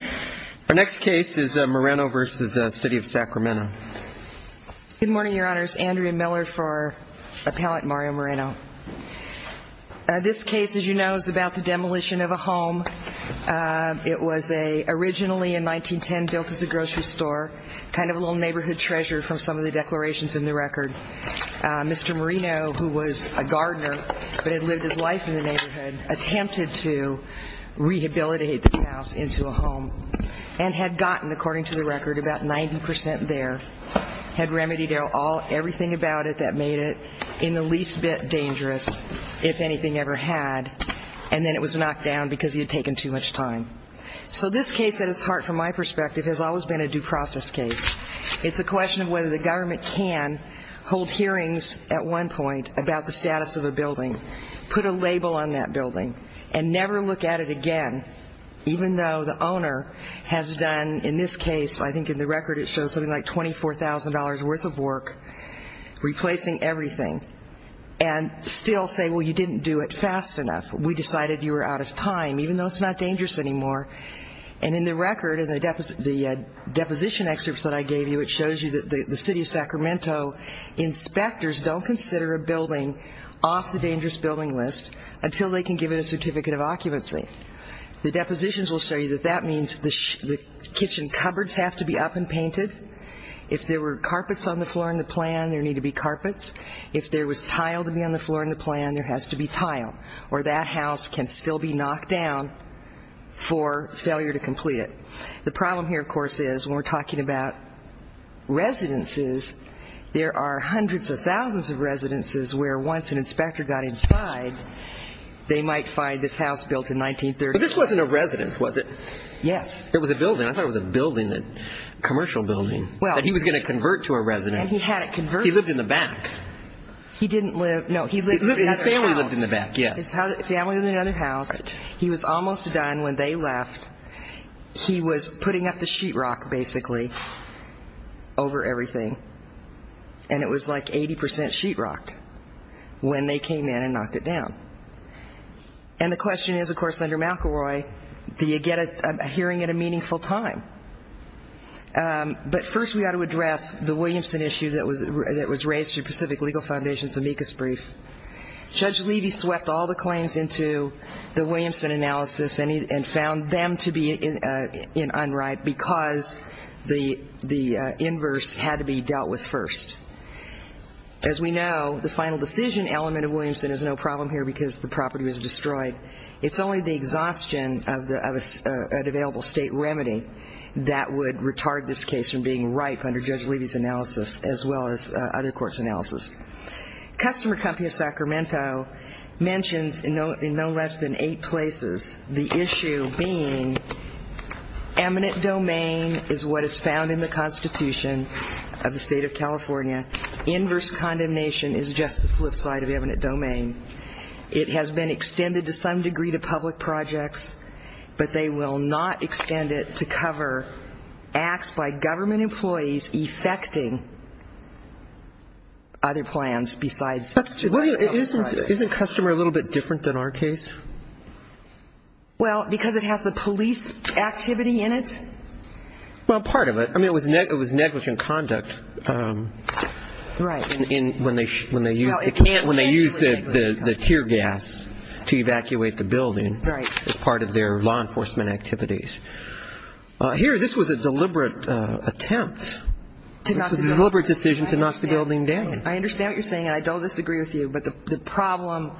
Good morning, your honors, Andrea Miller for Appellate Mario Moreno. This case, as you know, is about the demolition of a home. It was originally in 1910 built as a grocery store, kind of a little neighborhood treasure from some of the declarations in the record. Mr. Moreno, who was a gardener, but had lived his life in the neighborhood, attempted to rehabilitate the house into a home. And had gotten, according to the record, about 90% there, had remedied everything about it that made it in the least bit dangerous, if anything ever had, and then it was knocked down because he had taken too much time. So this case, at its heart, from my perspective, has always been a due process case. It's a question of whether the government can hold hearings at one point about the status of a building, put a label on that building, and never look at it again, even though the owner has done, in this case, I think in the record it shows something like $24,000 worth of work, replacing everything, and still say, well, you didn't do it fast enough. We decided you were out of time, even though it's not dangerous anymore. And in the record, in the deposition excerpts that I gave you, it shows you that the city of Sacramento inspectors don't consider a building off the dangerous building list until they can give it a certificate of occupancy. The depositions will show you that that means the kitchen cupboards have to be up and painted. If there were carpets on the floor in the plan, there need to be carpets. If there was tile to be on the floor in the plan, there has to be tile, or that house can still be knocked down for failure to complete it. The problem here, of course, is when we're talking about residences, there are hundreds of thousands of residences where once an inspector got inside, they might find this house built in 1930. But this wasn't a residence, was it? Do you get a hearing at a meaningful time? But first we ought to address the Williamson issue that was raised through Pacific Legal Foundation's amicus brief. Judge Levy swept all the claims into the Williamson analysis and found them to be in unright because the inverse had to be dealt with first. As we know, the final decision element of Williamson is no problem here because the property was destroyed. It's only the exhaustion of an available state remedy that would retard this case from being ripe under Judge Levy's analysis as well as other courts' analysis. Customer company of Sacramento mentions in no less than eight places the issue being eminent domain is what is found in the Constitution of the state of California. Inverse condemnation is just the flip side of eminent domain. It has been extended to some degree to public projects, but they will not extend it to cover acts by government employees effecting other plans besides public projects. Isn't customer a little bit different than our case? Well, because it has the police activity in it. Well, part of it. I mean, it was negligent conduct when they used the tear gas to evacuate the building as part of their law enforcement activities. Here, this was a deliberate attempt, deliberate decision to knock the building down. I understand what you're saying, and I don't disagree with you, but the problem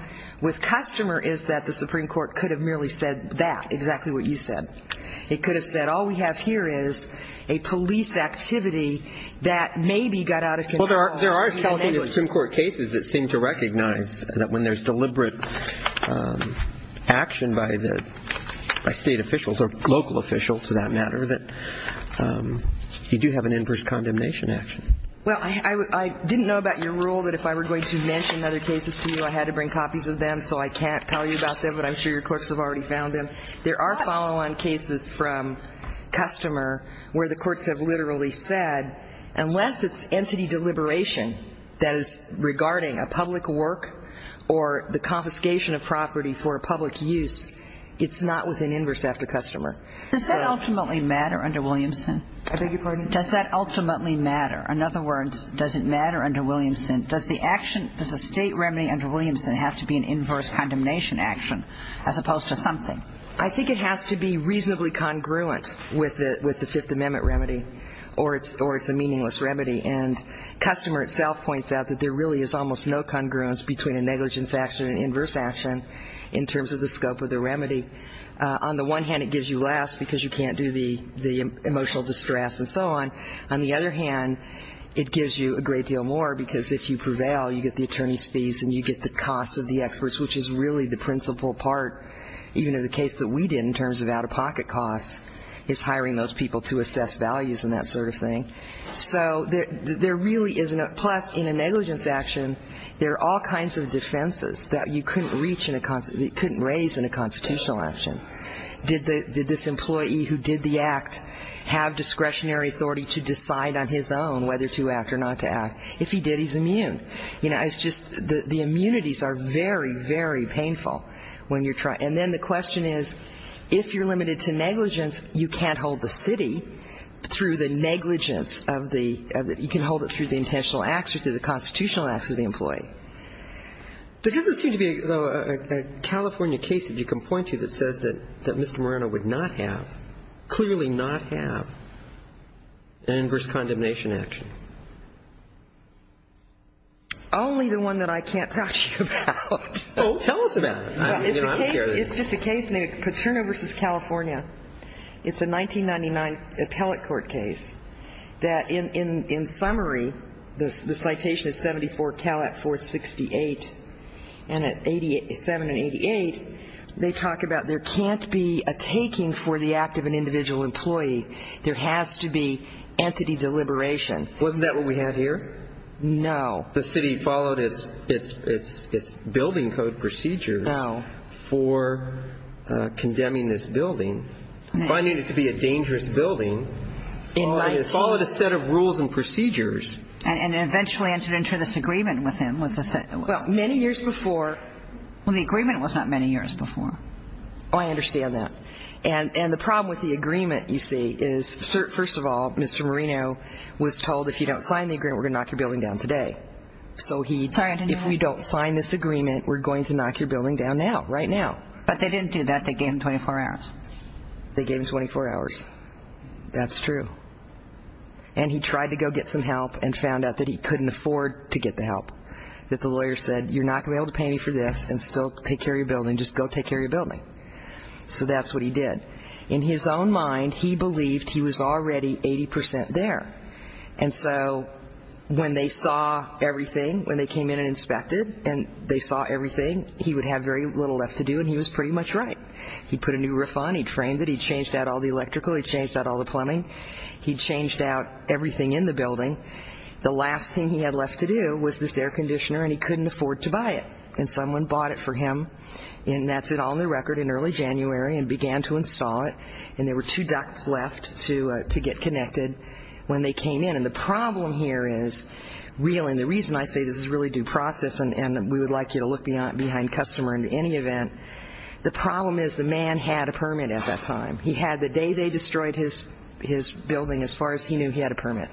with customer is that the Supreme Court could have merely said that, exactly what you said. It could have said all we have here is a police activity that maybe got out of control. Well, there are California Supreme Court cases that seem to recognize that when there's deliberate action by the state officials or local officials, for that matter, that you do have an inverse condemnation action. Well, I didn't know about your rule that if I were going to mention other cases to you, I had to bring copies of them, so I can't tell you about them, but I'm sure your clerks have already found them. There are follow-on cases from customer where the courts have literally said, unless it's entity deliberation that is regarding a public work or the confiscation of property for a public use, it's not with an inverse after customer. Does that ultimately matter under Williamson? I beg your pardon? Does that ultimately matter? In other words, does it matter under Williamson? Does the action, does the state remedy under Williamson have to be an inverse condemnation action as opposed to something? I think it has to be reasonably congruent with the Fifth Amendment remedy or it's a meaningless remedy. And customer itself points out that there really is almost no congruence between a negligence action and inverse action in terms of the scope of the remedy. On the one hand, it gives you less because you can't do the emotional distress and so on. On the other hand, it gives you a great deal more because if you prevail, you get the attorney's fees and you get the cost of the experts, which is really the principal part, even in the case that we did in terms of out-of-pocket costs, is hiring those people to assess values and that sort of thing. So there really isn't a plus in a negligence action. There are all kinds of defenses that you couldn't raise in a constitutional action. Did this employee who did the act have discretionary authority to decide on his own whether to act or not to act? If he did, he's immune. You know, it's just the immunities are very, very painful when you're trying. And then the question is, if you're limited to negligence, you can't hold the city through the negligence of the you can hold it through the intentional acts or through the constitutional acts of the employee. There doesn't seem to be a California case, if you can point to, that says that Mr. Moreno would not have, clearly not have, an inverse condemnation action. Only the one that I can't tell you about. Tell us about it. It's just a case named Peterno v. California. It's a 1999 appellate court case that, in summary, the citation is 74 Calat 468. And at 87 and 88, they talk about there can't be a taking for the act of an individual employee. There has to be entity deliberation. Wasn't that what we had here? No. The city followed its building code procedures. No. For condemning this building. Finding it to be a dangerous building. It followed a set of rules and procedures. And eventually entered into this agreement with him. Well, many years before. Well, the agreement was not many years before. Oh, I understand that. And the problem with the agreement, you see, is, first of all, Mr. Moreno was told if you don't sign the agreement, we're going to knock your building down today. Sorry, I didn't hear that. If you don't sign this agreement, we're going to knock your building down now. Right now. But they didn't do that. They gave him 24 hours. They gave him 24 hours. That's true. And he tried to go get some help and found out that he couldn't afford to get the help. That the lawyer said, you're not going to be able to pay me for this and still take care of your building. Just go take care of your building. So that's what he did. In his own mind, he believed he was already 80% there. And so when they saw everything, when they came in and inspected and they saw everything, he would have very little left to do. And he was pretty much right. He put a new roof on. He trained it. He changed out all the electrical. He changed out all the plumbing. He changed out everything in the building. The last thing he had left to do was this air conditioner, and he couldn't afford to buy it. And someone bought it for him, and that's it on the record, in early January, and began to install it. And there were two ducts left to get connected when they came in. And the problem here is real, and the reason I say this is really due process and we would like you to look behind customer in any event, the problem is the man had a permit at that time. He had the day they destroyed his building, as far as he knew, he had a permit.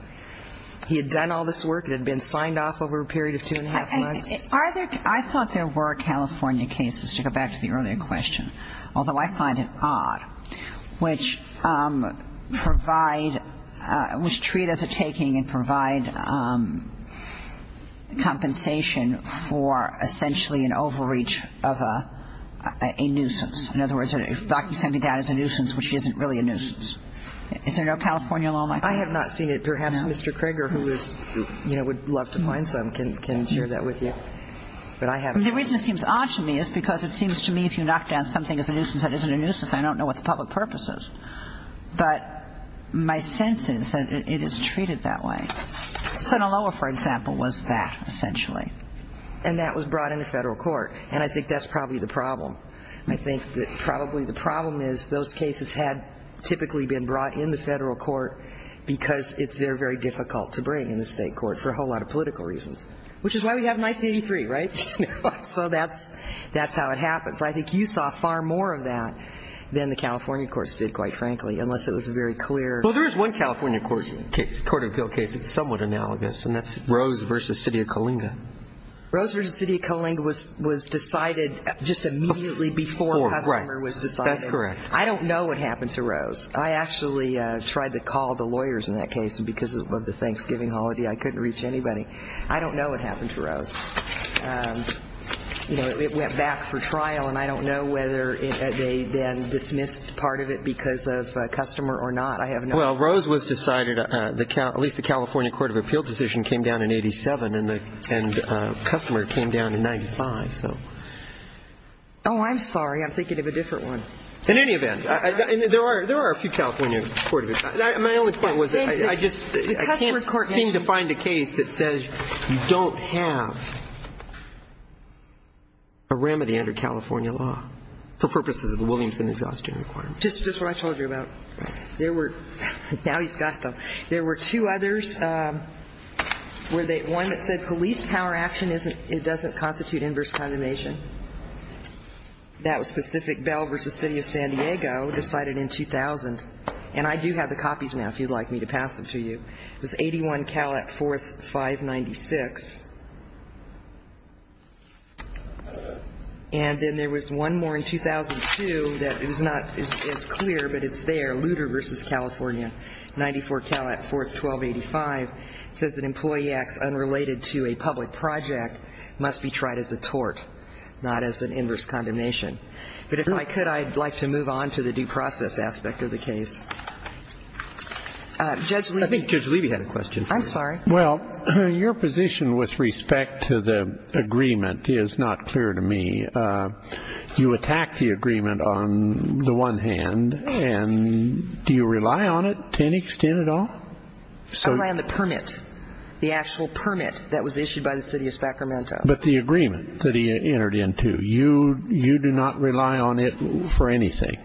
He had done all this work and had been signed off over a period of two and a half months. I thought there were California cases, to go back to the earlier question, although I find it odd. Which provide, which treat as a taking and provide compensation for essentially an overreach of a nuisance. In other words, a document sent down as a nuisance, which isn't really a nuisance. Is there no California law on that? I have not seen it. Perhaps Mr. Kroeger, who is, you know, would love to find some, can share that with you. But I haven't seen it. The reason it seems odd to me is because it seems to me if you knock down something as a nuisance, I don't know what the public purpose is. But my sense is that it is treated that way. Sinaloa, for example, was that, essentially. And that was brought into federal court. And I think that's probably the problem. I think that probably the problem is those cases had typically been brought into federal court because they're very difficult to bring into state court for a whole lot of political reasons. Which is why we have 1983, right? So that's how it happens. I think you saw far more of that than the California courts did, quite frankly, unless it was very clear. Well, there is one California court of appeal case. It's somewhat analogous, and that's Rose v. City of Coalinga. Rose v. City of Coalinga was decided just immediately before Hussler was decided. That's correct. I don't know what happened to Rose. I actually tried to call the lawyers in that case. And because of the Thanksgiving holiday, I couldn't reach anybody. I don't know what happened to Rose. You know, it went back for trial, and I don't know whether they then dismissed part of it because of customer or not. I have no idea. Well, Rose was decided, at least the California court of appeal decision came down in 87, and customer came down in 95. Oh, I'm sorry. I'm thinking of a different one. In any event, there are a few California court of appeals. My only point was that I just can't seem to find a case that says you don't have a remedy under California law for purposes of the Williamson exhaustion requirement. Just what I told you about. Now he's got them. There were two others, one that said police power action doesn't constitute inverse condemnation. That was specific Bell v. City of San Diego decided in 2000. And I do have the copies now if you'd like me to pass them to you. It was 81 Calat 4th, 596. And then there was one more in 2002 that is not as clear, but it's there, Lutter v. California, 94 Calat 4th, 1285. It says that employee acts unrelated to a public project must be tried as a tort, not as an inverse condemnation. But if I could, I'd like to move on to the due process aspect of the case. Judge Levy. I think Judge Levy had a question. I'm sorry. Well, your position with respect to the agreement is not clear to me. You attack the agreement on the one hand, and do you rely on it to any extent at all? I rely on the permit, the actual permit that was issued by the city of Sacramento. But the agreement that he entered into. You do not rely on it for anything.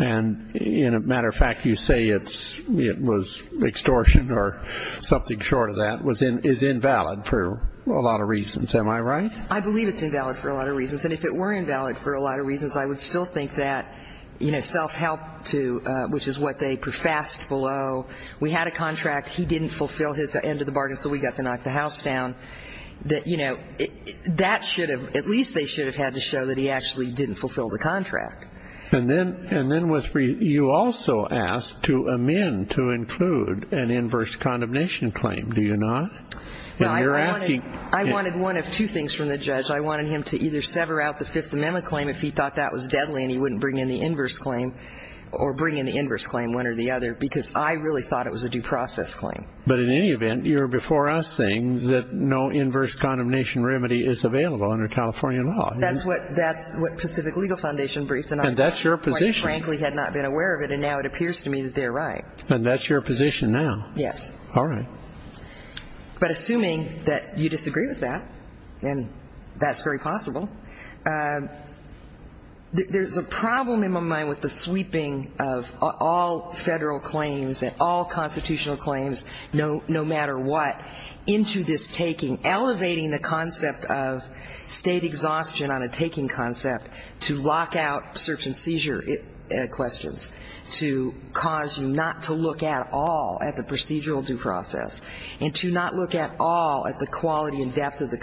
And, as a matter of fact, you say it was extortion or something short of that is invalid for a lot of reasons. Am I right? I believe it's invalid for a lot of reasons. And if it were invalid for a lot of reasons, I would still think that self-help, which is what they professed below. We had a contract. He didn't fulfill his end of the bargain, so we got to knock the house down. That should have, at least they should have had to show that he actually didn't fulfill the contract. And then you also asked to amend to include an inverse condemnation claim, do you not? I wanted one of two things from the judge. I wanted him to either sever out the Fifth Amendment claim if he thought that was deadly and he wouldn't bring in the inverse claim or bring in the inverse claim, one or the other, because I really thought it was a due process claim. But in any event, you're before us saying that no inverse condemnation remedy is available under California law. That's what Pacific Legal Foundation briefed, and I quite frankly had not been aware of it, and now it appears to me that they're right. And that's your position now? Yes. All right. But assuming that you disagree with that, and that's very possible, there's a problem in my mind with the sweeping of all Federal claims and all constitutional claims, no matter what, into this taking, elevating the concept of state exhaustion on a taking concept to lock out search and seizure questions, to cause you not to look at all at the procedural due process, and to not look at all at the quality and depth of the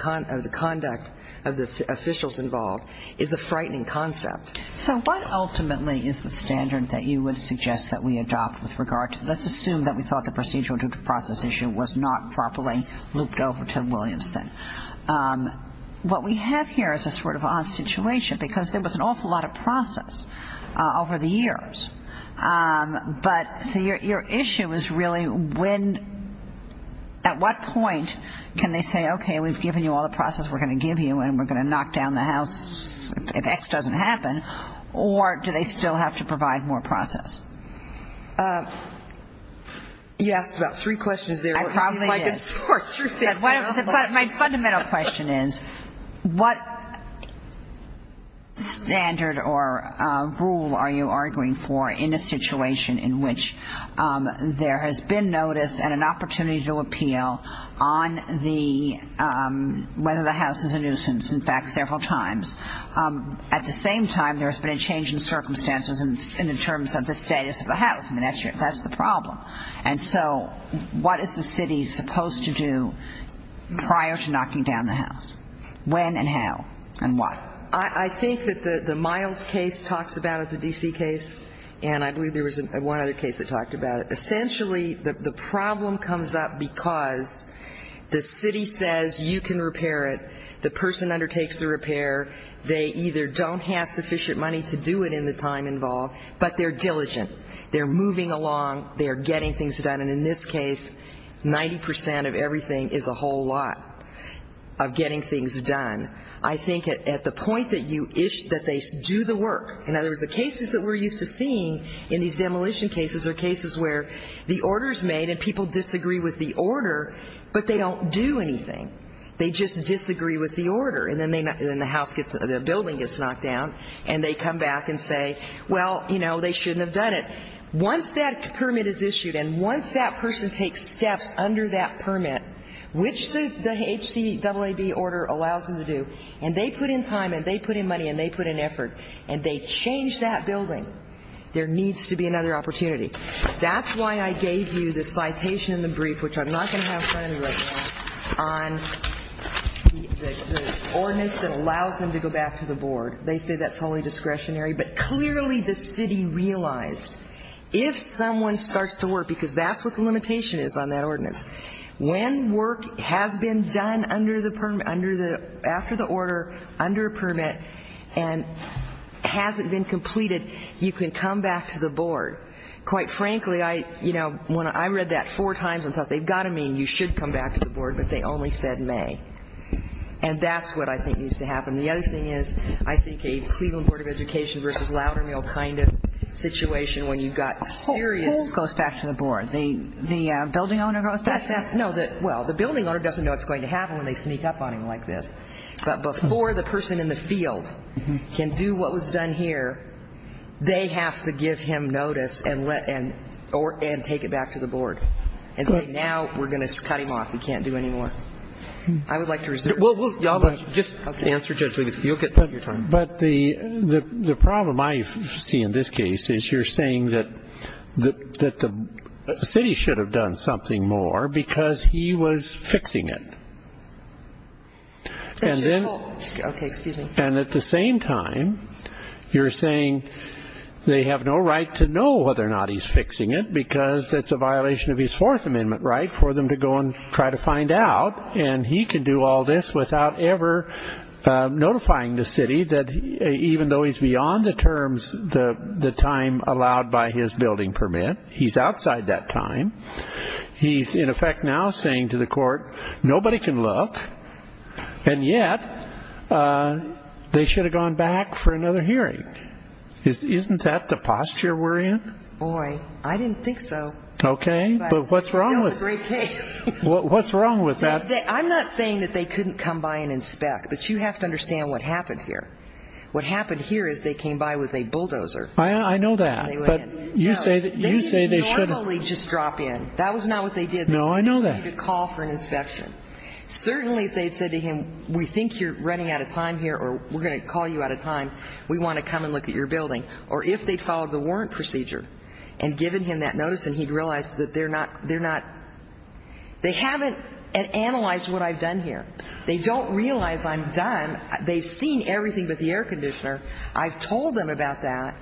conduct of the officials involved, is a frightening concept. So what ultimately is the standard that you would suggest that we adopt with regard to, let's assume that we thought the procedural due process issue was not properly looped over to Williamson. What we have here is a sort of odd situation, because there was an awful lot of process over the years. But your issue is really when, at what point can they say, okay, we've given you all the process we're going to give you, and we're going to knock down the house if X doesn't happen, or do they still have to provide more process? You asked about three questions there. I probably did. My fundamental question is, what standard or rule are you arguing for in a situation in which there has been notice and an opportunity to appeal on whether the house is a nuisance, in fact, several times? At the same time, there has been a change in circumstances in terms of the status of the house. I mean, that's the problem. And so what is the city supposed to do prior to knocking down the house? When and how and what? I think that the Miles case talks about it, the D.C. case, and I believe there was one other case that talked about it. Essentially, the problem comes up because the city says you can repair it, the person undertakes the repair, they either don't have sufficient money to do it in the time involved, but they're diligent, they're moving along, they're getting things done. And in this case, 90% of everything is a whole lot of getting things done. I think at the point that they do the work, in other words, the cases that we're used to seeing in these demolition cases are cases where the order is made and people disagree with the order, but they don't do anything. They just disagree with the order. And then the building gets knocked down and they come back and say, well, you know, they shouldn't have done it. Once that permit is issued and once that person takes steps under that permit, which the HCAAB order allows them to do, and they put in time and they put in money and they put in effort and they change that building, there needs to be another opportunity. That's why I gave you the citation in the brief, which I'm not going to have in front of me right now, on the ordinance that allows them to go back to the board. They say that's wholly discretionary, but clearly the city realized if someone starts to work, because that's what the limitation is on that ordinance, when work has been done under the, after the order, under a permit, and hasn't been completed, you can come back to the board. Quite frankly, I, you know, I read that four times and thought they've got to mean you should come back to the board, but they only said may. And that's what I think needs to happen. The other thing is I think a Cleveland Board of Education versus Loudermill kind of situation when you've got serious. The whole goes back to the board. The building owner goes back to the board. No, well, the building owner doesn't know what's going to happen when they sneak up on him like this. But before the person in the field can do what was done here, they have to give him notice and let, and take it back to the board and say now we're going to cut him off. We can't do any more. I would like to reserve. Well, y'all just answer judge, you'll get your time. But the problem I see in this case is you're saying that the city should have done something more because he was fixing it. And then. Okay, excuse me. And at the same time, you're saying they have no right to know whether or not he's fixing it because that's a violation of his Fourth Amendment right for them to go and try to find out. And he can do all this without ever notifying the city that even though he's beyond the terms, the time allowed by his building permit, he's outside that time. He's in effect now saying to the court, nobody can look. And yet they should have gone back for another hearing. Isn't that the posture we're in? Boy, I didn't think so. Okay, but what's wrong with that? I'm not saying that they couldn't come by and inspect. But you have to understand what happened here. What happened here is they came by with a bulldozer. I know that. But you say they shouldn't. They didn't normally just drop in. That was not what they did. No, I know that. They didn't need to call for an inspection. Certainly if they had said to him, we think you're running out of time here or we're going to call you out of time, we want to come and look at your building. Or if they followed the warrant procedure and given him that notice and he realized that they're not, they're not. They haven't analyzed what I've done here. They don't realize I'm done. They've seen everything but the air conditioner. I've told them about that.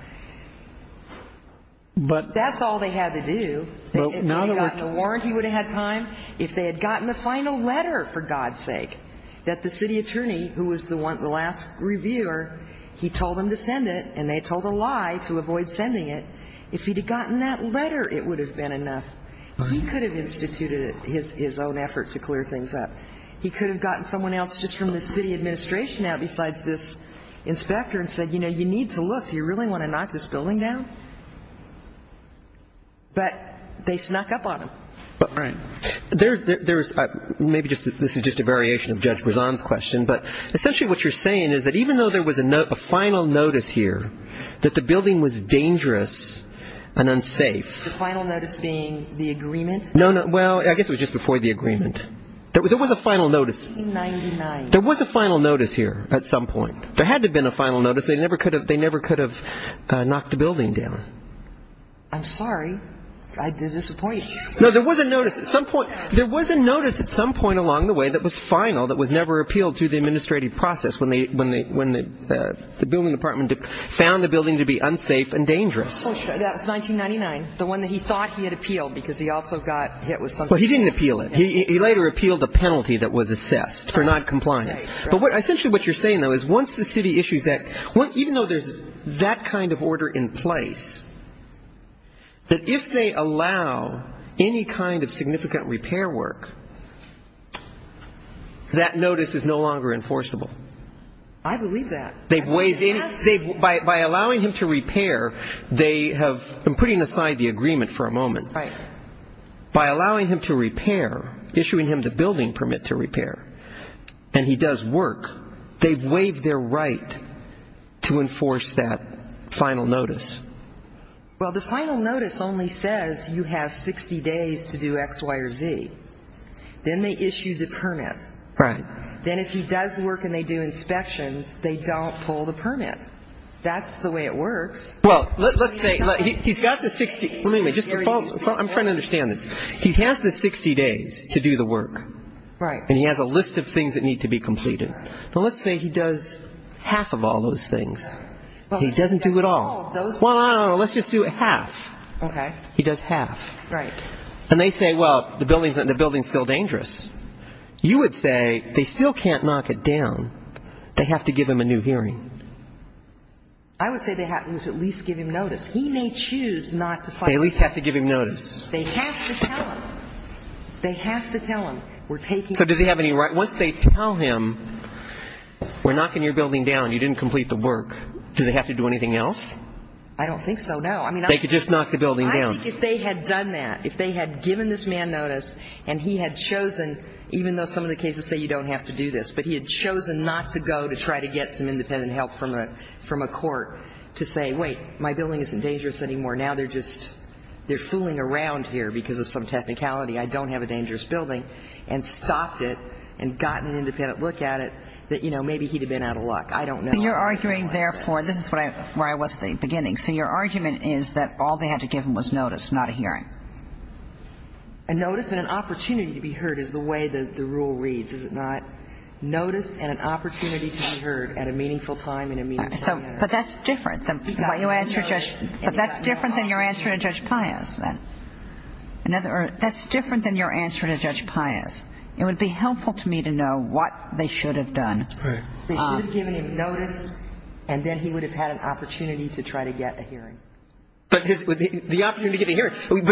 But that's all they had to do. If they had gotten the warrant, he would have had time. If they had gotten the final letter, for God's sake, that the city attorney, who was the last reviewer, he told them to send it and they told a lie to avoid sending it. If he had gotten that letter, it would have been enough. He could have instituted his own effort to clear things up. He could have gotten someone else just from the city administration out besides this inspector and said, you know, you need to look. Do you really want to knock this building down? But they snuck up on him. Right. There's – maybe this is just a variation of Judge Brezan's question. But essentially what you're saying is that even though there was a final notice here that the building was dangerous and unsafe. The final notice being the agreement? No, no. Well, I guess it was just before the agreement. There was a final notice. 1999. There was a final notice here at some point. There had to have been a final notice. They never could have knocked the building down. I'm sorry. I did disappoint you. No, there was a notice at some point. There was a notice at some point along the way that was final that was never appealed to the administrative process when the building department found the building to be unsafe and dangerous. That was 1999, the one that he thought he had appealed because he also got hit with something. Well, he didn't appeal it. He later appealed a penalty that was assessed for not compliance. But essentially what you're saying, though, is once the city issues that – even though there's that kind of order in place, that if they allow any kind of significant repair work, that notice is no longer enforceable. I believe that. By allowing him to repair, they have – I'm putting aside the agreement for a moment. Right. By allowing him to repair, issuing him the building permit to repair, and he does work, they've waived their right to enforce that final notice. Well, the final notice only says you have 60 days to do X, Y, or Z. Then they issue the permit. Right. Then if he does work and they do inspections, they don't pull the permit. That's the way it works. Well, let's say he's got the 60 – wait a minute. I'm trying to understand this. He has the 60 days to do the work. Right. And he has a list of things that need to be completed. Well, let's say he does half of all those things. He doesn't do it all. Well, I don't know. Let's just do it half. Okay. He does half. Right. And they say, well, the building's still dangerous. You would say they still can't knock it down. They have to give him a new hearing. I would say they have to at least give him notice. He may choose not to file a notice. They at least have to give him notice. They have to tell him. They have to tell him. So does he have any right? Once they tell him we're knocking your building down, you didn't complete the work, do they have to do anything else? I don't think so, no. They could just knock the building down. If they had done that, if they had given this man notice and he had chosen, even though some of the cases say you don't have to do this, but he had chosen not to go to try to get some independent help from a court to say, wait, my building isn't dangerous anymore, now they're just fooling around here because of some technicality, I don't have a dangerous building, and stopped it and gotten an independent look at it, that, you know, maybe he'd have been out of luck. I don't know. So you're arguing, therefore, this is where I was at the beginning. So your argument is that all they had to give him was notice, not a hearing. A notice and an opportunity to be heard is the way the rule reads, is it not? Notice and an opportunity to be heard at a meaningful time in a meaningful manner. But that's different than what you answered Judge Payas. But that's different than your answer to Judge Payas. That's different than your answer to Judge Payas. It would be helpful to me to know what they should have done. They should have given him notice, and then he would have had an opportunity to try to get a hearing. But the opportunity to get a hearing.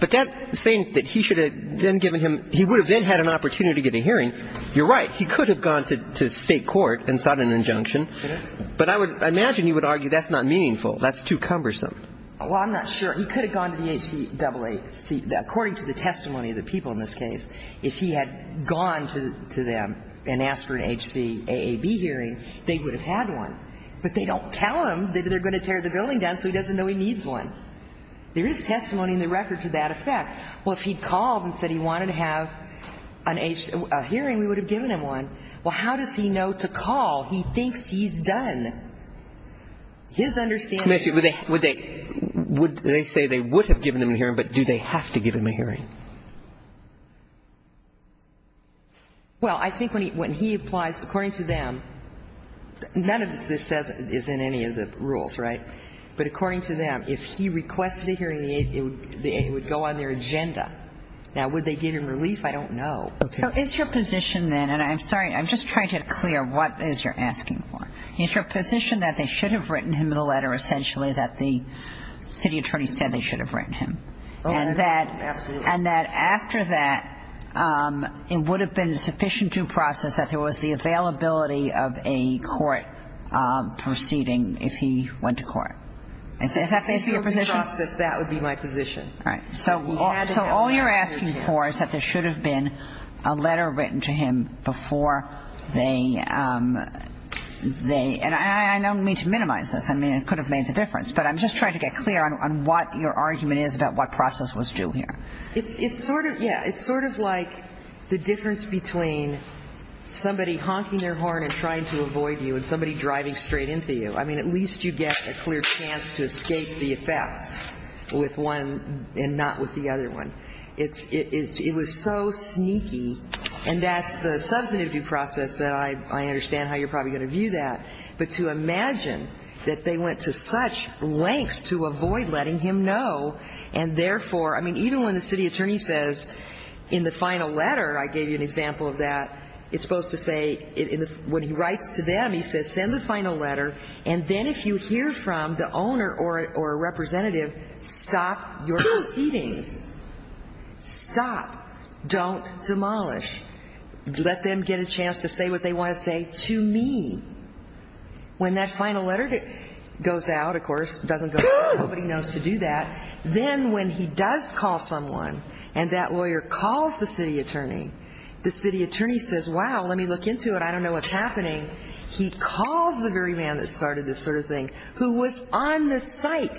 But that's saying that he should have then given him – he would have then had an opportunity to get a hearing. You're right. He could have gone to State court and sought an injunction. But I would – I imagine you would argue that's not meaningful. That's too cumbersome. Well, I'm not sure. He could have gone to the HCAAC. According to the testimony of the people in this case, if he had gone to them and asked for an HCAAB hearing, they would have had one. But they don't tell him that they're going to tear the building down so he doesn't know he needs one. There is testimony in the record to that effect. Well, if he had called and said he wanted to have a hearing, we would have given him one. Well, how does he know to call? He thinks he's done. His understanding is – Would they say they would have given him a hearing, but do they have to give him a hearing? Well, I think when he applies, according to them, none of this is in any of the rules, right? But according to them, if he requested a hearing, it would go on their agenda. Now, would they give him relief? I don't know. Okay. So is your position then – and I'm sorry, I'm just trying to get clear what is you're asking for. Is your position that they should have written him a letter, essentially, that the city attorney said they should have written him? Absolutely. And that after that, it would have been a sufficient due process that there was the availability of a court proceeding if he went to court? Is that basically your position? If it's a sufficient due process, that would be my position. All right. So all you're asking for is that there should have been a letter written to him before they – and I don't mean to minimize this. I mean, it could have made the difference. But I'm just trying to get clear on what your argument is about what process was due here. It's sort of – yeah, it's sort of like the difference between somebody honking their horn and trying to avoid you and somebody driving straight into you. I mean, at least you get a clear chance to escape the effects with one and not with the other one. It was so sneaky. And that's the substantive due process that I understand how you're probably going to view that. But to imagine that they went to such lengths to avoid letting him know, and therefore – I mean, even when the city attorney says in the final letter, I gave you an example of that, it's supposed to say – when he writes to them, he says, send the final letter. And then if you hear from the owner or representative, stop your proceedings. Stop. Don't demolish. Let them get a chance to say what they want to say to me. When that final letter goes out, of course, it doesn't go out. Nobody knows to do that. Then when he does call someone and that lawyer calls the city attorney, the city attorney says, wow, let me look into it. I don't know what's happening. He calls the very man that started this sort of thing who was on the site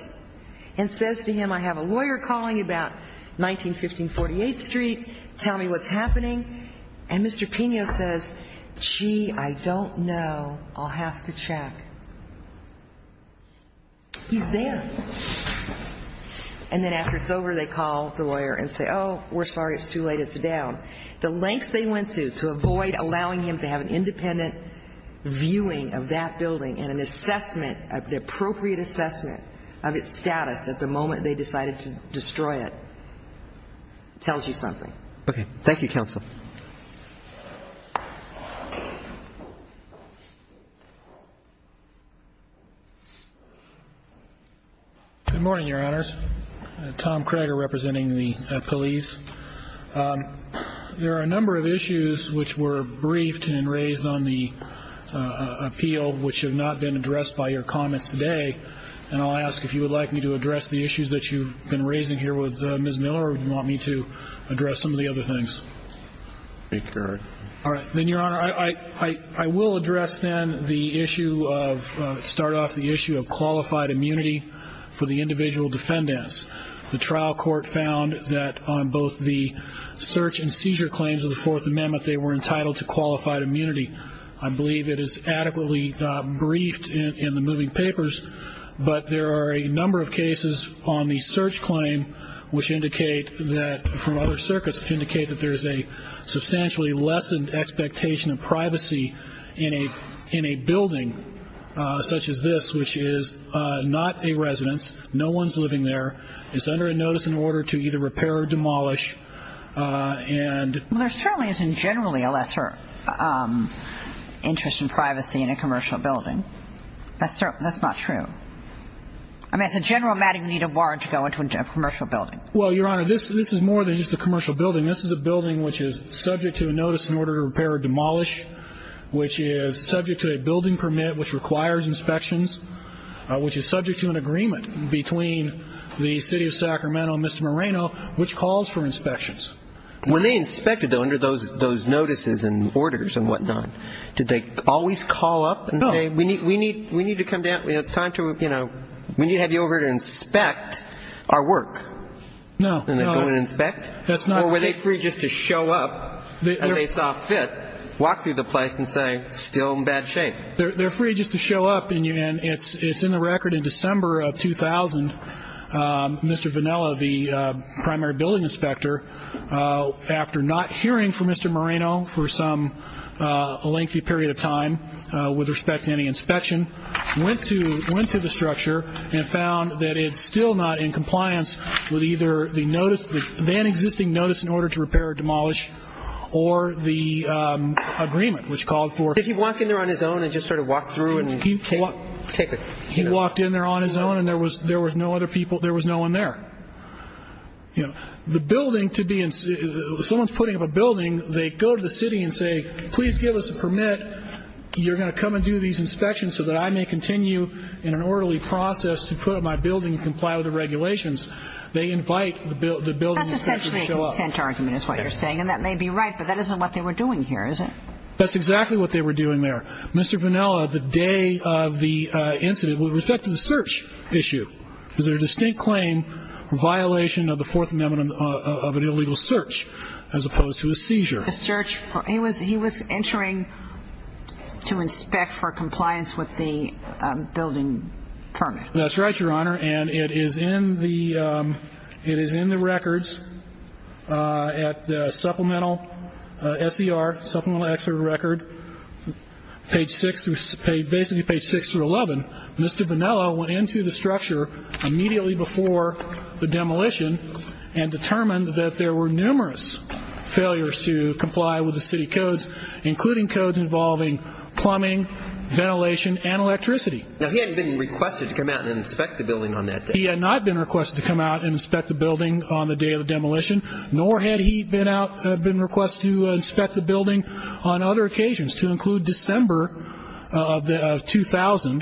and says to him, I have a lawyer calling about 1915 48th Street. Tell me what's happening. And Mr. Pino says, gee, I don't know. I'll have to check. He's there. And then after it's over, they call the lawyer and say, oh, we're sorry. It's too late. It's down. The lengths they went to, to avoid allowing him to have an independent viewing of that building and an assessment, an appropriate assessment of its status at the moment they decided to destroy it, tells you something. Okay. Thank you, Counsel. Good morning, Your Honors. Tom Krager representing the police. There are a number of issues which were briefed and raised on the appeal which have not been addressed by your comments today. And I'll ask if you would like me to address the issues that you've been raising here with Ms. Miller or if you want me to address some of the other things. All right. Then, Your Honor, I will address then the issue of, start off the issue of qualified immunity for the individual defendants. The trial court found that on both the search and seizure claims of the Fourth Amendment, they were entitled to qualified immunity. I believe it is adequately briefed in the moving papers, but there are a number of cases on the search claim which indicate that, from other circuits, which indicate that there is a substantially lessened expectation of privacy in a building such as this, which is not a residence. No one's living there. It's under a notice in order to either repair or demolish. Well, there certainly isn't generally a lesser interest in privacy in a commercial building. That's not true. I mean, as a general matter, you need a warrant to go into a commercial building. Well, Your Honor, this is more than just a commercial building. This is a building which is subject to a notice in order to repair or demolish, which is subject to a building permit which requires inspections, which is subject to an agreement between the City of Sacramento and Mr. Moreno, which calls for inspections. When they inspected, though, under those notices and orders and whatnot, did they always call up and say, we need to come down, it's time to, you know, we need to have you over to inspect our work? No. And they'd go and inspect? That's not true. Or were they free just to show up and they saw fit, walk through the place and say, still in bad shape? They're free just to show up, and it's in the record in December of 2000, Mr. Vanella, the primary building inspector, after not hearing from Mr. Moreno for some lengthy period of time with respect to any inspection, went to the structure and found that it's still not in compliance with either the notice, the then-existing notice in order to repair or demolish, or the agreement which called for. Did he walk in there on his own and just sort of walk through and take it? He walked in there on his own, and there was no other people, there was no one there. You know, the building to be in, someone's putting up a building, they go to the city and say, please give us a permit, you're going to come and do these inspections so that I may continue in an orderly process to put up my building and comply with the regulations. They invite the building inspector to show up. That's essentially a consent argument is what you're saying, and that may be right, but that isn't what they were doing here, is it? That's exactly what they were doing there. Mr. Vanella, the day of the incident, with respect to the search issue, there's a distinct claim, a violation of the Fourth Amendment of an illegal search, as opposed to a seizure. A search for he was entering to inspect for compliance with the building permit. That's right, Your Honor, and it is in the records at the supplemental S.E.R., supplemental exert record, page six, basically page six through 11. Mr. Vanella went into the structure immediately before the demolition and determined that there were numerous failures to comply with the city codes, including codes involving plumbing, ventilation, and electricity. Now, he hadn't been requested to come out and inspect the building on that day. He had not been requested to come out and inspect the building on the day of the demolition, nor had he been requested to inspect the building on other occasions, to include December of 2000,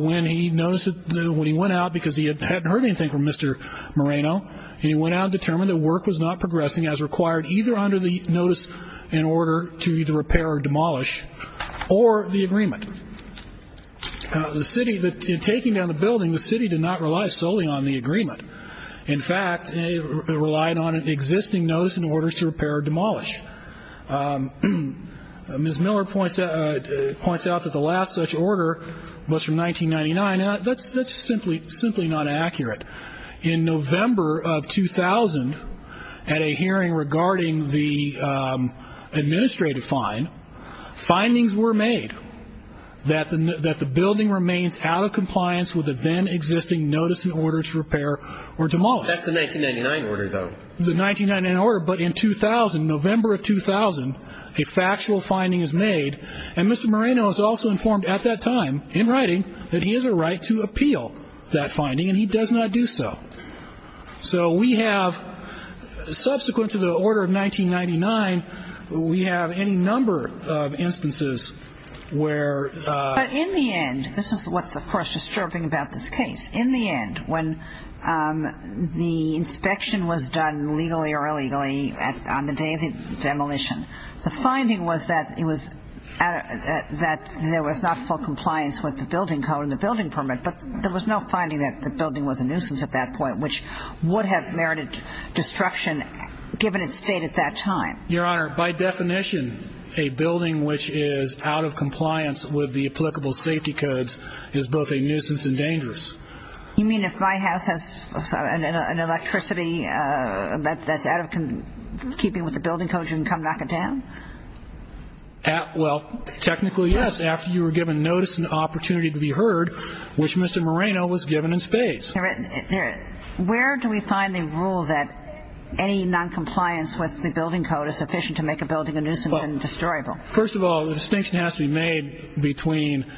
when he went out because he hadn't heard anything from Mr. Moreno, and he went out and determined that work was not progressing as required, either under the notice in order to either repair or demolish, or the agreement. In taking down the building, the city did not rely solely on the agreement. In fact, they relied on an existing notice in order to repair or demolish. Ms. Miller points out that the last such order was from 1999, and that's simply not accurate. In November of 2000, at a hearing regarding the administrative fine, findings were made that the building remains out of compliance with the then existing notice in order to repair or demolish. That's the 1999 order, though. The 1999 order, but in 2000, November of 2000, a factual finding is made, and Mr. Moreno is also informed at that time, in writing, that he has a right to appeal that finding, and he does not do so. So we have, subsequent to the order of 1999, we have any number of instances where— But in the end, this is what's, of course, disturbing about this case. In the end, when the inspection was done legally or illegally on the day of the demolition, the finding was that there was not full compliance with the building code and the building permit, but there was no finding that the building was a nuisance at that point, which would have merited destruction given its state at that time. Your Honor, by definition, a building which is out of compliance with the applicable safety codes is both a nuisance and dangerous. You mean if my house has an electricity that's out of keeping with the building codes, you can come knock it down? Well, technically, yes, after you were given notice and opportunity to be heard, which Mr. Moreno was given in spades. Where do we find the rule that any noncompliance with the building code is sufficient to make a building a nuisance and destroyable? First of all, the distinction has to be made between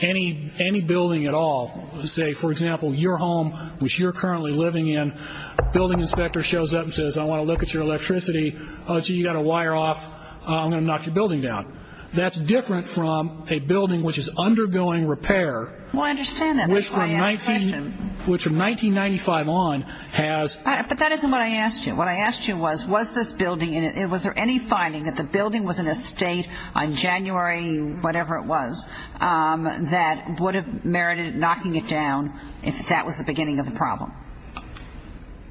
any building at all. Say, for example, your home, which you're currently living in, a building inspector shows up and says, I want to look at your electricity. Oh, gee, you've got a wire off. I'm going to knock your building down. That's different from a building which is undergoing repair. Well, I understand that. Which from 1995 on has... But that isn't what I asked you. What I asked you was, was this building, was there any finding that the building was in a state on January whatever it was that would have merited knocking it down if that was the beginning of the problem?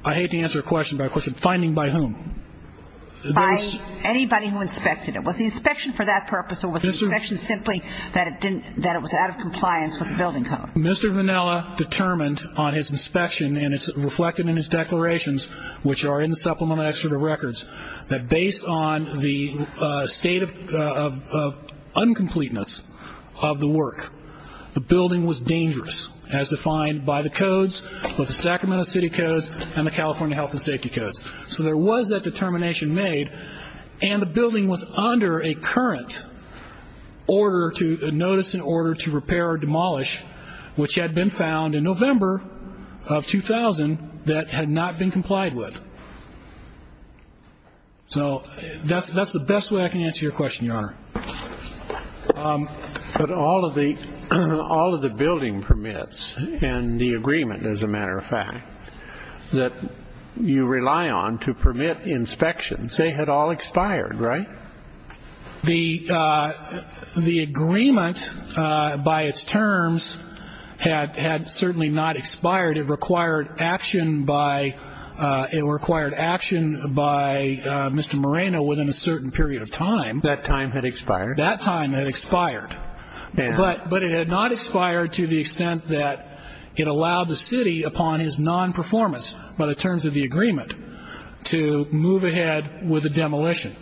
I hate to answer a question by a question. Finding by whom? By anybody who inspected it. Was the inspection for that purpose, or was the inspection simply that it was out of compliance with the building code? Mr. Vannella determined on his inspection, and it's reflected in his declarations which are in the Supplemental Excerpt of Records, that based on the state of uncompleteness of the work, the building was dangerous as defined by the codes, both the Sacramento City Codes and the California Health and Safety Codes. So there was that determination made, and the building was under a current notice in order to repair or demolish, which had been found in November of 2000 that had not been complied with. So that's the best way I can answer your question, Your Honor. But all of the building permits and the agreement, as a matter of fact, that you rely on to permit inspections, they had all expired, right? The agreement by its terms had certainly not expired. It required action by Mr. Moreno within a certain period of time. That time had expired? That time had expired. But it had not expired to the extent that it allowed the city, upon his non-performance by the terms of the agreement, to move ahead with a demolition.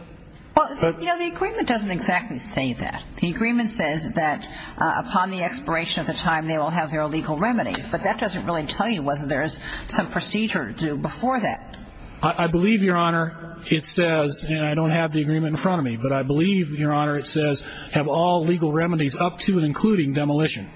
Well, you know, the agreement doesn't exactly say that. The agreement says that upon the expiration of the time they will have their legal remedies, but that doesn't really tell you whether there is some procedure to do before that. I believe, Your Honor, it says, and I don't have the agreement in front of me, but I believe, Your Honor, it says, have all legal remedies up to and including demolition.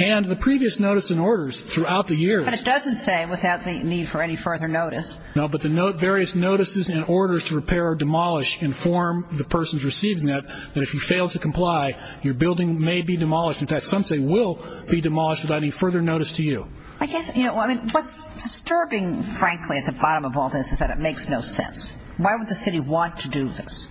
And the previous notice and orders throughout the years. But it doesn't say without the need for any further notice. No, but the various notices and orders to repair or demolish inform the persons receiving that that if you fail to comply, your building may be demolished. In fact, some say will be demolished without any further notice to you. I guess, you know, what's disturbing, frankly, at the bottom of all this is that it makes no sense. Why would the city want to do this?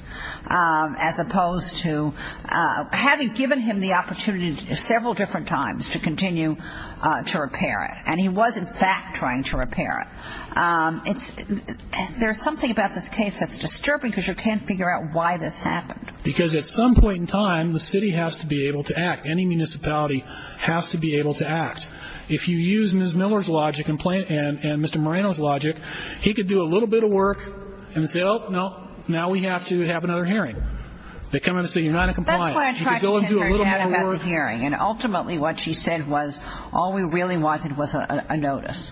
As opposed to having given him the opportunity several different times to continue to repair it. And he was, in fact, trying to repair it. There's something about this case that's disturbing because you can't figure out why this happened. Because at some point in time, the city has to be able to act. Any municipality has to be able to act. If you use Ms. Miller's logic and Mr. Moreno's logic, he could do a little bit of work and say, oh, no, now we have to have another hearing. They come in and say you're not in compliance. You could go and do a little more work. And ultimately what she said was all we really wanted was a notice.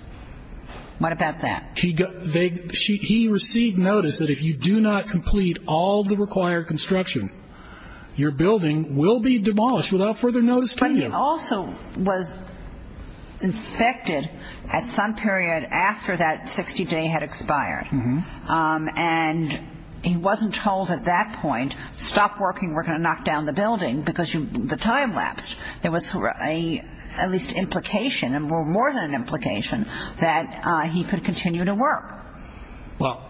What about that? He received notice that if you do not complete all the required construction, your building will be demolished without further notice to you. He also was inspected at some period after that 60-day had expired. And he wasn't told at that point, stop working, we're going to knock down the building, because the time lapsed. There was at least an implication, more than an implication, that he could continue to work. Well,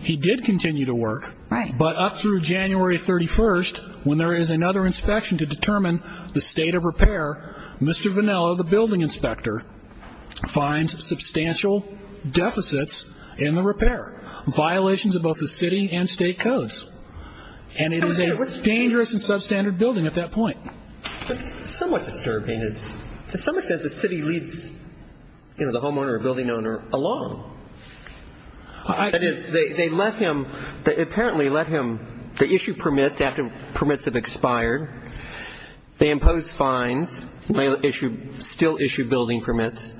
he did continue to work. Right. But up through January 31st, when there is another inspection to determine the state of repair, Mr. Vannello, the building inspector, finds substantial deficits in the repair, violations of both the city and state codes. And it is a dangerous and substandard building at that point. That's somewhat disturbing. To some extent the city leads, you know, the homeowner or building owner along. That is, they let him, apparently let him, they issue permits after permits have expired. They impose fines. They still issue building permits.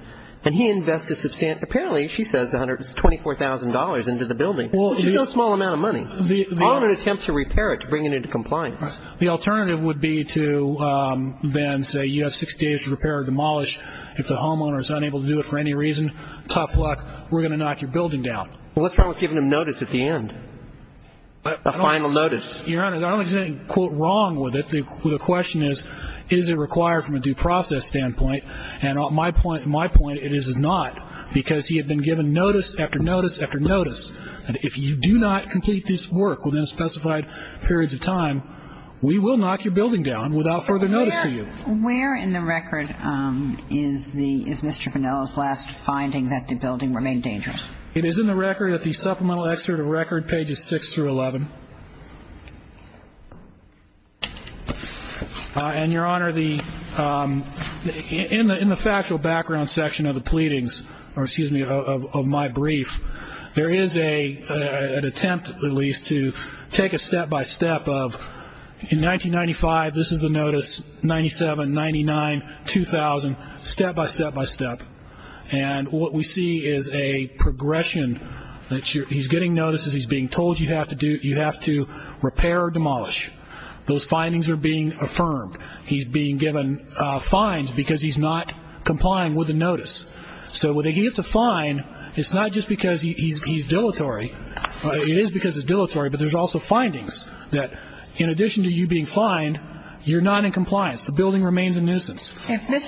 And he invests a substantial, apparently, she says $24,000 into the building, which is no small amount of money. The homeowner attempts to repair it to bring it into compliance. The alternative would be to then say you have six days to repair or demolish. If the homeowner is unable to do it for any reason, tough luck, we're going to knock your building down. Well, what's wrong with giving him notice at the end, a final notice? Your Honor, I don't think there's anything, quote, wrong with it. The question is, is it required from a due process standpoint? And my point, it is not, because he had been given notice after notice after notice. And if you do not complete this work within specified periods of time, we will knock your building down without further notice to you. Where in the record is Mr. Vannella's last finding that the building remained dangerous? It is in the record at the supplemental excerpt of record, pages 6 through 11. And, Your Honor, in the factual background section of the pleadings, or excuse me, of my brief, there is an attempt, at least, to take a step-by-step of, in 1995, this is the notice, 97, 99, 2000, step-by-step-by-step. And what we see is a progression. He's getting notice as he's being told you have to repair or demolish. Those findings are being affirmed. He's being given fines because he's not complying with the notice. So when he gets a fine, it's not just because he's dilatory. It is because it's dilatory. But there's also findings that in addition to you being fined, you're not in compliance. The building remains in nuisance.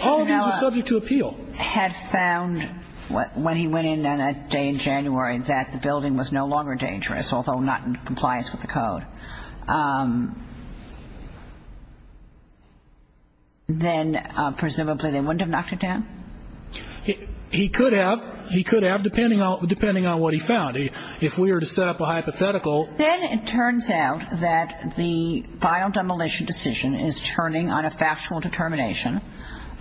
All of these are subject to appeal. If Mr. Vannella had found when he went in on a day in January that the building was no longer dangerous, although not in compliance with the code, then presumably they wouldn't have knocked it down? He could have. He could have, depending on what he found. If we were to set up a hypothetical. Then it turns out that the final demolition decision is turning on a factual determination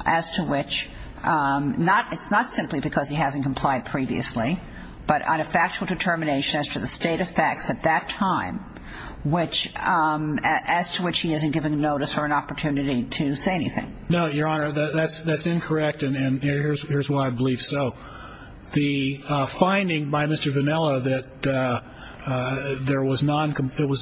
as to which, it's not simply because he hasn't complied previously, but on a factual determination as to the state of facts at that time, as to which he hasn't given notice or an opportunity to say anything. No, Your Honor, that's incorrect, and here's why I believe so. The finding by Mr. Vannella that there was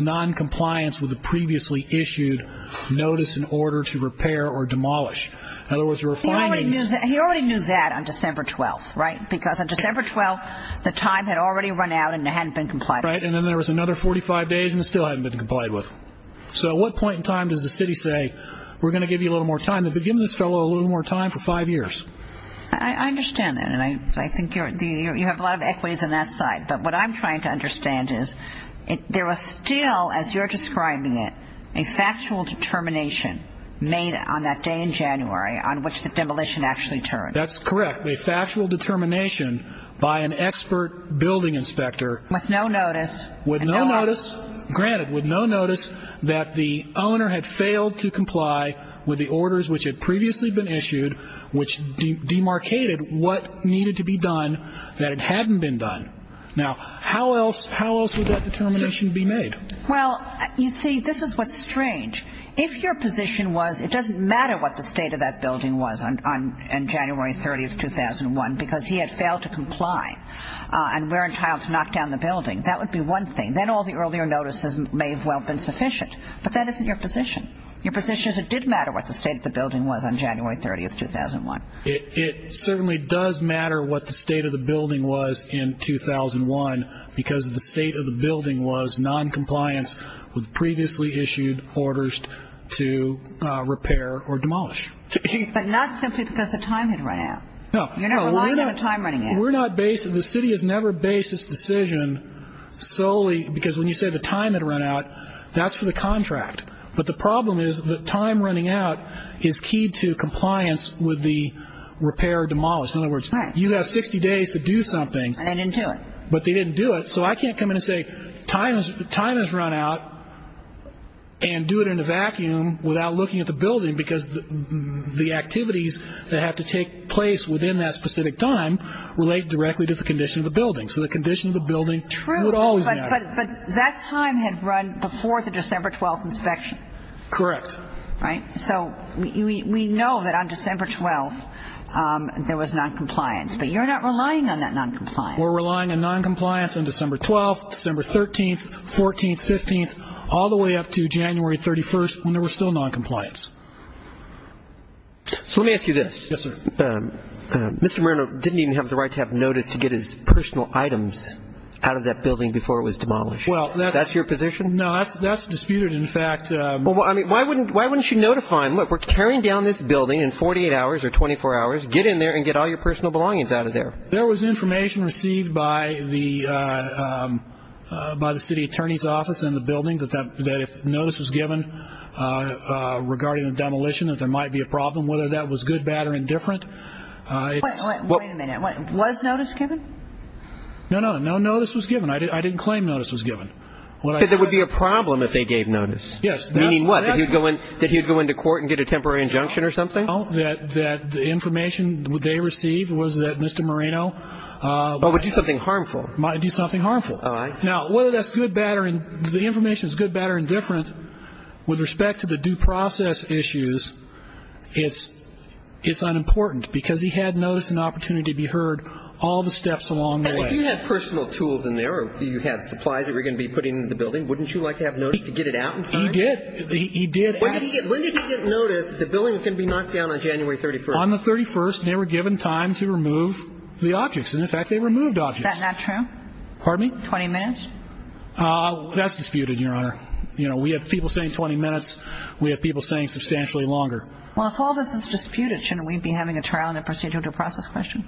noncompliance with a previously issued notice in order to repair or demolish. In other words, there were findings. He already knew that on December 12th, right? Because on December 12th, the time had already run out and it hadn't been complied with. Right, and then there was another 45 days and it still hadn't been complied with. So at what point in time does the city say, we're going to give you a little more time? They've been giving this fellow a little more time for five years. I understand that and I think you have a lot of equities on that side, but what I'm trying to understand is there was still, as you're describing it, a factual determination made on that day in January on which the demolition actually turned. That's correct. A factual determination by an expert building inspector. With no notice. With no notice. Granted, with no notice that the owner had failed to comply with the orders which had previously been issued, which demarcated what needed to be done that hadn't been done. Now, how else would that determination be made? Well, you see, this is what's strange. If your position was it doesn't matter what the state of that building was on January 30th, 2001, because he had failed to comply and were entitled to knock down the building, that would be one thing. Then all the earlier notices may have well been sufficient. But that isn't your position. Your position is it did matter what the state of the building was on January 30th, 2001. It certainly does matter what the state of the building was in 2001 because the state of the building was noncompliance with previously issued orders to repair or demolish. But not simply because the time had run out. No. You're not relying on the time running out. We're not based. The city has never based its decision solely because when you say the time had run out, that's for the contract. But the problem is the time running out is key to compliance with the repair or demolish. In other words, you have 60 days to do something. And they didn't do it. But they didn't do it. So I can't come in and say time has run out and do it in a vacuum without looking at the building because the activities that have to take place within that specific time relate directly to the condition of the building. So the condition of the building would always matter. But that time had run before the December 12th inspection. Correct. Right? So we know that on December 12th there was noncompliance. But you're not relying on that noncompliance. We're relying on noncompliance on December 12th, December 13th, 14th, 15th, all the way up to January 31st when there was still noncompliance. So let me ask you this. Yes, sir. Mr. Marino didn't even have the right to have notice to get his personal items out of that building before it was demolished. That's your position? No, that's disputed, in fact. Well, I mean, why wouldn't you notify him? Look, we're tearing down this building in 48 hours or 24 hours. Get in there and get all your personal belongings out of there. There was information received by the city attorney's office in the building that if notice was given regarding the demolition, that there might be a problem, whether that was good, bad, or indifferent. Wait a minute. Was notice given? No, no. No notice was given. I didn't claim notice was given. Because it would be a problem if they gave notice. Yes. Meaning what? That he would go into court and get a temporary injunction or something? No, that the information they received was that Mr. Marino might do something harmful. Might do something harmful. Oh, I see. Now, whether that's good, bad, or indifferent, with respect to the due process issues, it's unimportant, because he had notice and opportunity to be heard all the steps along the way. And if you had personal tools in there or you had supplies that you were going to be putting in the building, wouldn't you like to have notice to get it out in time? He did. When did he get notice the building was going to be knocked down on January 31st? On the 31st. And they were given time to remove the objects. And, in fact, they removed objects. Is that not true? Pardon me? 20 minutes? That's disputed, Your Honor. You know, we have people saying 20 minutes. We have people saying substantially longer. Well, if all this is disputed, shouldn't we be having a trial and a procedural due process question?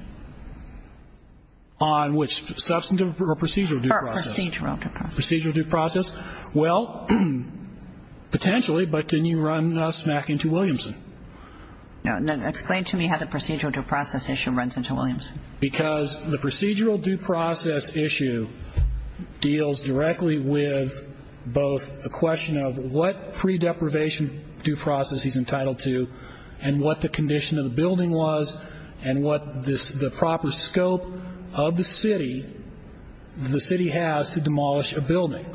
On which? Substantive or procedural due process? Procedural due process. Procedural due process. Well, potentially, but then you run smack into Williamson. Explain to me how the procedural due process issue runs into Williamson. Because the procedural due process issue deals directly with both a question of what pre-deprivation due process he's entitled to and what the condition of the building was and what the proper scope of the city, the city has to demolish a building.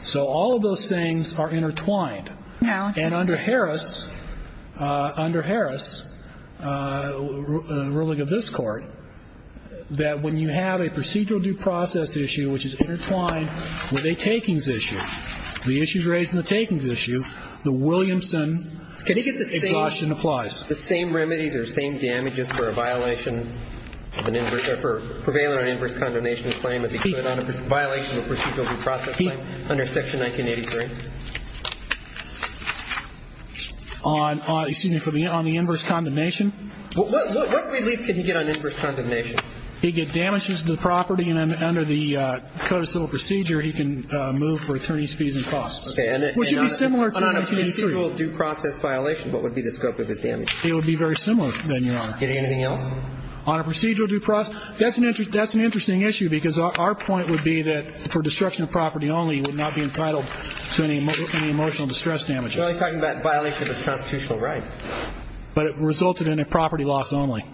So all of those things are intertwined. And under Harris, under Harris, ruling of this Court, that when you have a procedural due process issue which is intertwined with a takings issue, the issues raised in the takings issue, the Williamson exhaustion applies. The same remedies or same damages for a violation of an inverse or for prevailing on an inverse condemnation claim as he could on a violation of a procedural due process claim under Section 1983? Excuse me. On the inverse condemnation? What relief can he get on inverse condemnation? He'd get damages to the property, and under the Code of Civil Procedure, he can move for attorney's fees and costs. Okay. Which would be similar to 1983. And on a procedural due process violation, what would be the scope of his damages? It would be very similar, then, Your Honor. Anything else? On a procedural due process, that's an interesting issue because our point would be that for destruction of property only, he would not be entitled to any emotional distress damages. You're only talking about violation of his constitutional right. But it resulted in a property loss only.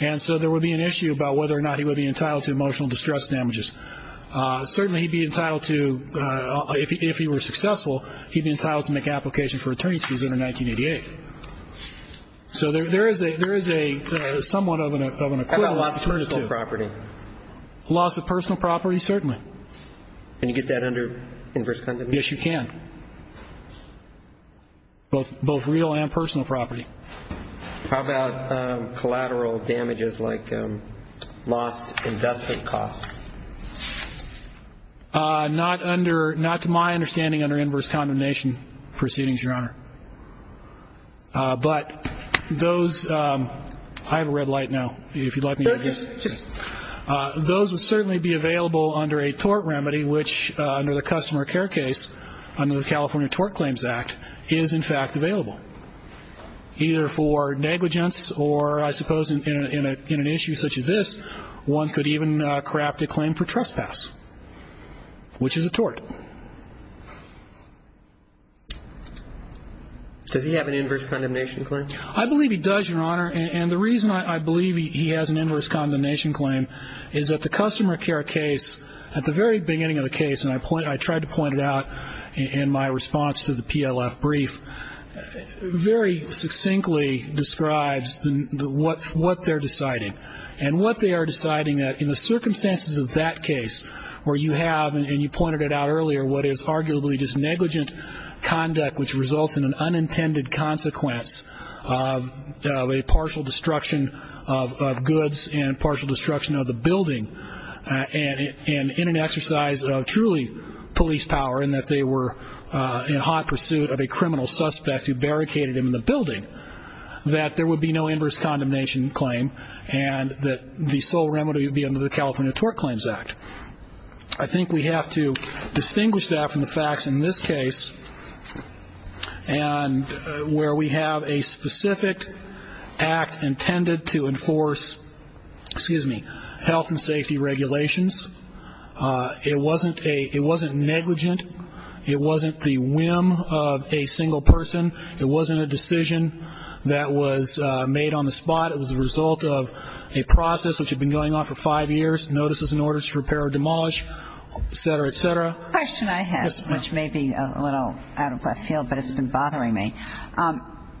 And so there would be an issue about whether or not he would be entitled to emotional distress damages. Certainly he'd be entitled to, if he were successful, he'd be entitled to make an application for attorney's fees under 1988. So there is a somewhat of an equivalent. How about loss of personal property? Loss of personal property, certainly. Can you get that under inverse condemnation? Yes, you can, both real and personal property. How about collateral damages like lost investment costs? Not to my understanding under inverse condemnation proceedings, Your Honor. But those, I have a red light now, if you'd like me to adjust. No, just. Those would certainly be available under a tort remedy, which under the customer care case, under the California Tort Claims Act, is in fact available. Either for negligence or, I suppose, in an issue such as this, one could even craft a claim for trespass, which is a tort. Does he have an inverse condemnation claim? I believe he does, Your Honor. And the reason I believe he has an inverse condemnation claim is that the customer care case, at the very beginning of the case, and I tried to point it out in my response to the PLF brief, very succinctly describes what they're deciding. And what they are deciding, in the circumstances of that case, where you have, and you pointed it out earlier, what is arguably just negligent conduct, which results in an unintended consequence of a partial destruction of goods and partial destruction of the building and in an exercise of truly police power in that they were in hot pursuit of a criminal suspect who barricaded him in the building, that there would be no inverse condemnation claim and that the sole remedy would be under the California Tort Claims Act. I think we have to distinguish that from the facts in this case and where we have a specific act intended to enforce, excuse me, health and safety regulations. It wasn't negligent. It wasn't the whim of a single person. It wasn't a decision that was made on the spot. It was the result of a process which had been going on for five years, notices and orders to repair or demolish, et cetera, et cetera. The question I have, which may be a little out of left field, but it's been bothering me.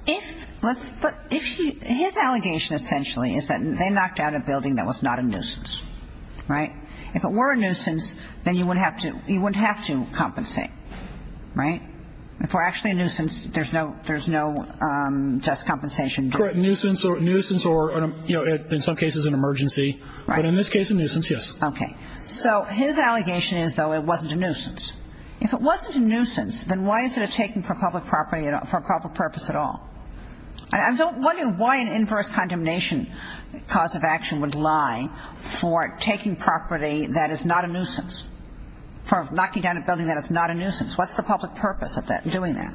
His allegation essentially is that they knocked out a building that was not a nuisance, right? If it were a nuisance, then you wouldn't have to compensate, right? If it were actually a nuisance, there's no just compensation. Correct. A nuisance or, you know, in some cases an emergency, but in this case a nuisance, yes. Okay. So his allegation is, though, it wasn't a nuisance. If it wasn't a nuisance, then why is it taken for public purpose at all? I'm wondering why an inverse condemnation cause of action would lie for taking property that is not a nuisance, for knocking down a building that is not a nuisance. What's the public purpose of doing that?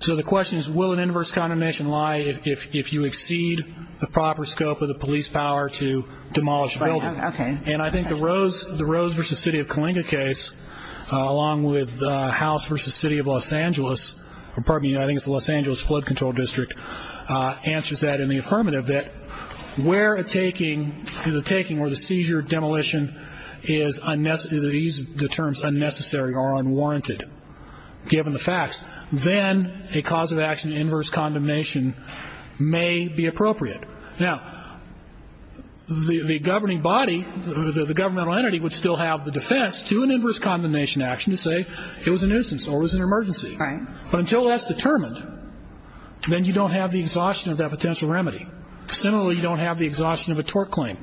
So the question is will an inverse condemnation lie if you exceed the proper scope of the police power to demolish a building? Okay. And I think the Rose v. City of Coalinga case, along with House v. City of Los Angeles, or pardon me, I think it's the Los Angeles Flood Control District, answers that in the affirmative that where a taking or the seizure or demolition is unnecessary, they use the terms unnecessary or unwarranted, given the facts, then a cause of action inverse condemnation may be appropriate. Now, the governing body, the governmental entity, would still have the defense to an inverse condemnation action to say it was a nuisance or it was an emergency. Right. But until that's determined, then you don't have the exhaustion of that potential remedy. Similarly, you don't have the exhaustion of a tort claim.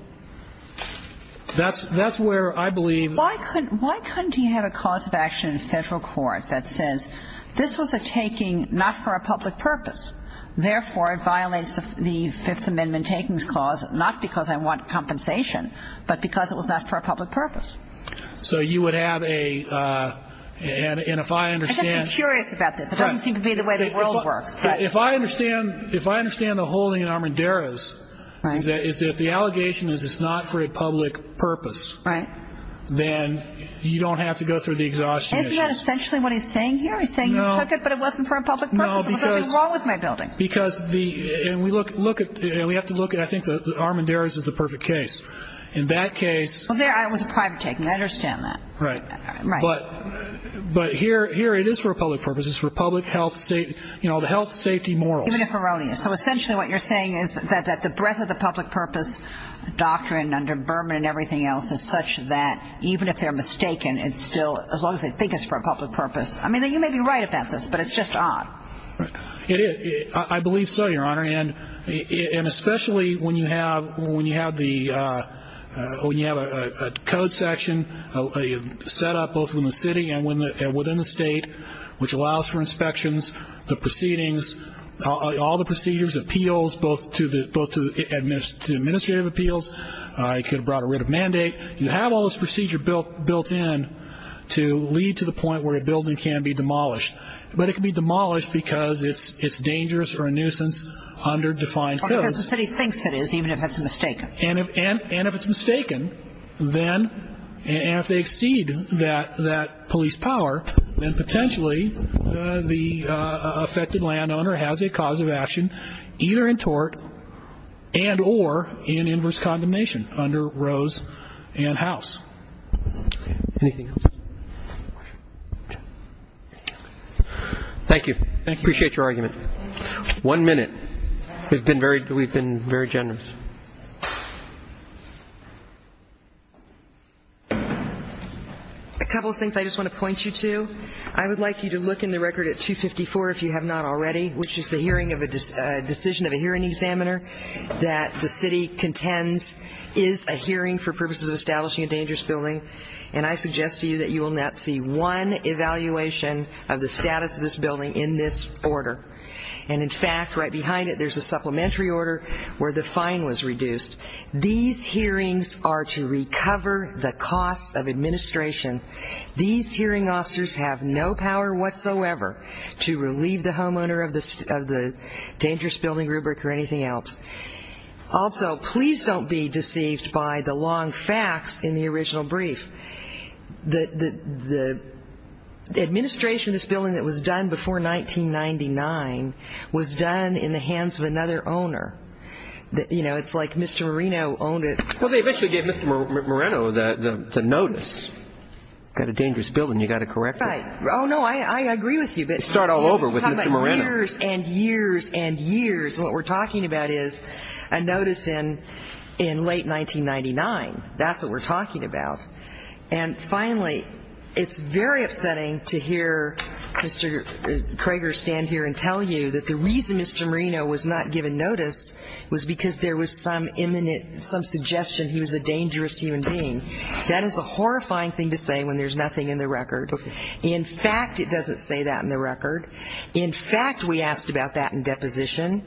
That's where I believe the... Why couldn't he have a cause of action in federal court that says this was a taking not for a public purpose, therefore it violates the Fifth Amendment takings clause, not because I want compensation, but because it was not for a public purpose. So you would have a... And if I understand... I'm just curious about this. It doesn't seem to be the way the world works. If I understand the holding in Armendariz is that if the allegation is it's not for a public purpose... Right. ...then you don't have to go through the exhaustion issue. Isn't that essentially what he's saying here? He's saying you took it, but it wasn't for a public purpose. No, because... What's wrong with my building? Because the... And we look at... And we have to look at... I think that Armendariz is the perfect case. In that case... Well, it was a private taking. I understand that. Right. Right. But here it is for a public purpose. It's for public health, you know, the health, safety, morals. Even if erroneous. So essentially what you're saying is that the breadth of the public purpose doctrine under Berman and everything else is such that even if they're mistaken, it's still, as long as they think it's for a public purpose... I mean, you may be right about this, but it's just odd. It is. I believe so, Your Honor. And especially when you have a code section set up both within the city and within the state, which allows for inspections, the proceedings, all the procedures, appeals, both to administrative appeals. It could have brought a writ of mandate. You have all this procedure built in to lead to the point where a building can be demolished. But it can be demolished because it's dangerous or a nuisance under defined codes. Because the city thinks it is, even if it's mistaken. And if it's mistaken, then if they exceed that police power, then potentially the affected landowner has a cause of action either in tort and or in inverse condemnation under Rose and House. Anything else? Thank you. Appreciate your argument. One minute. We've been very generous. A couple of things I just want to point you to. I would like you to look in the record at 254, if you have not already, which is the hearing of a decision of a hearing examiner that the city contends is a hearing for purposes of establishing a dangerous building. And I suggest to you that you will not see one evaluation of the status of this building in this order. And, in fact, right behind it there's a supplementary order where the fine was reduced. These hearings are to recover the costs of administration. These hearing officers have no power whatsoever to relieve the homeowner of the dangerous building rubric or anything else. Also, please don't be deceived by the long fax in the original brief. The administration of this building that was done before 1999 was done in the hands of another owner. You know, it's like Mr. Moreno owned it. Well, they eventually gave Mr. Moreno the notice. Got a dangerous building. You've got to correct it. Right. Oh, no, I agree with you. Start all over with Mr. Moreno. How about years and years and years? What we're talking about is a notice in late 1999. That's what we're talking about. And, finally, it's very upsetting to hear Mr. Crager stand here and tell you that the reason Mr. Moreno was not given notice was because there was some imminent, some suggestion he was a dangerous human being. That is a horrifying thing to say when there's nothing in the record. Okay. In fact, it doesn't say that in the record. In fact, we asked about that in deposition.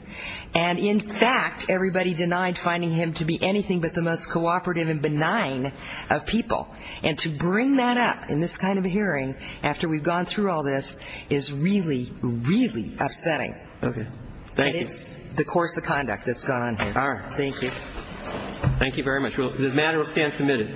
And, in fact, everybody denied finding him to be anything but the most cooperative and benign of people. And to bring that up in this kind of a hearing after we've gone through all this is really, really upsetting. Okay. Thank you. And it's the course of conduct that's gone on here. All right. Thank you. Thank you very much. This matter will stand submitted. Thank you.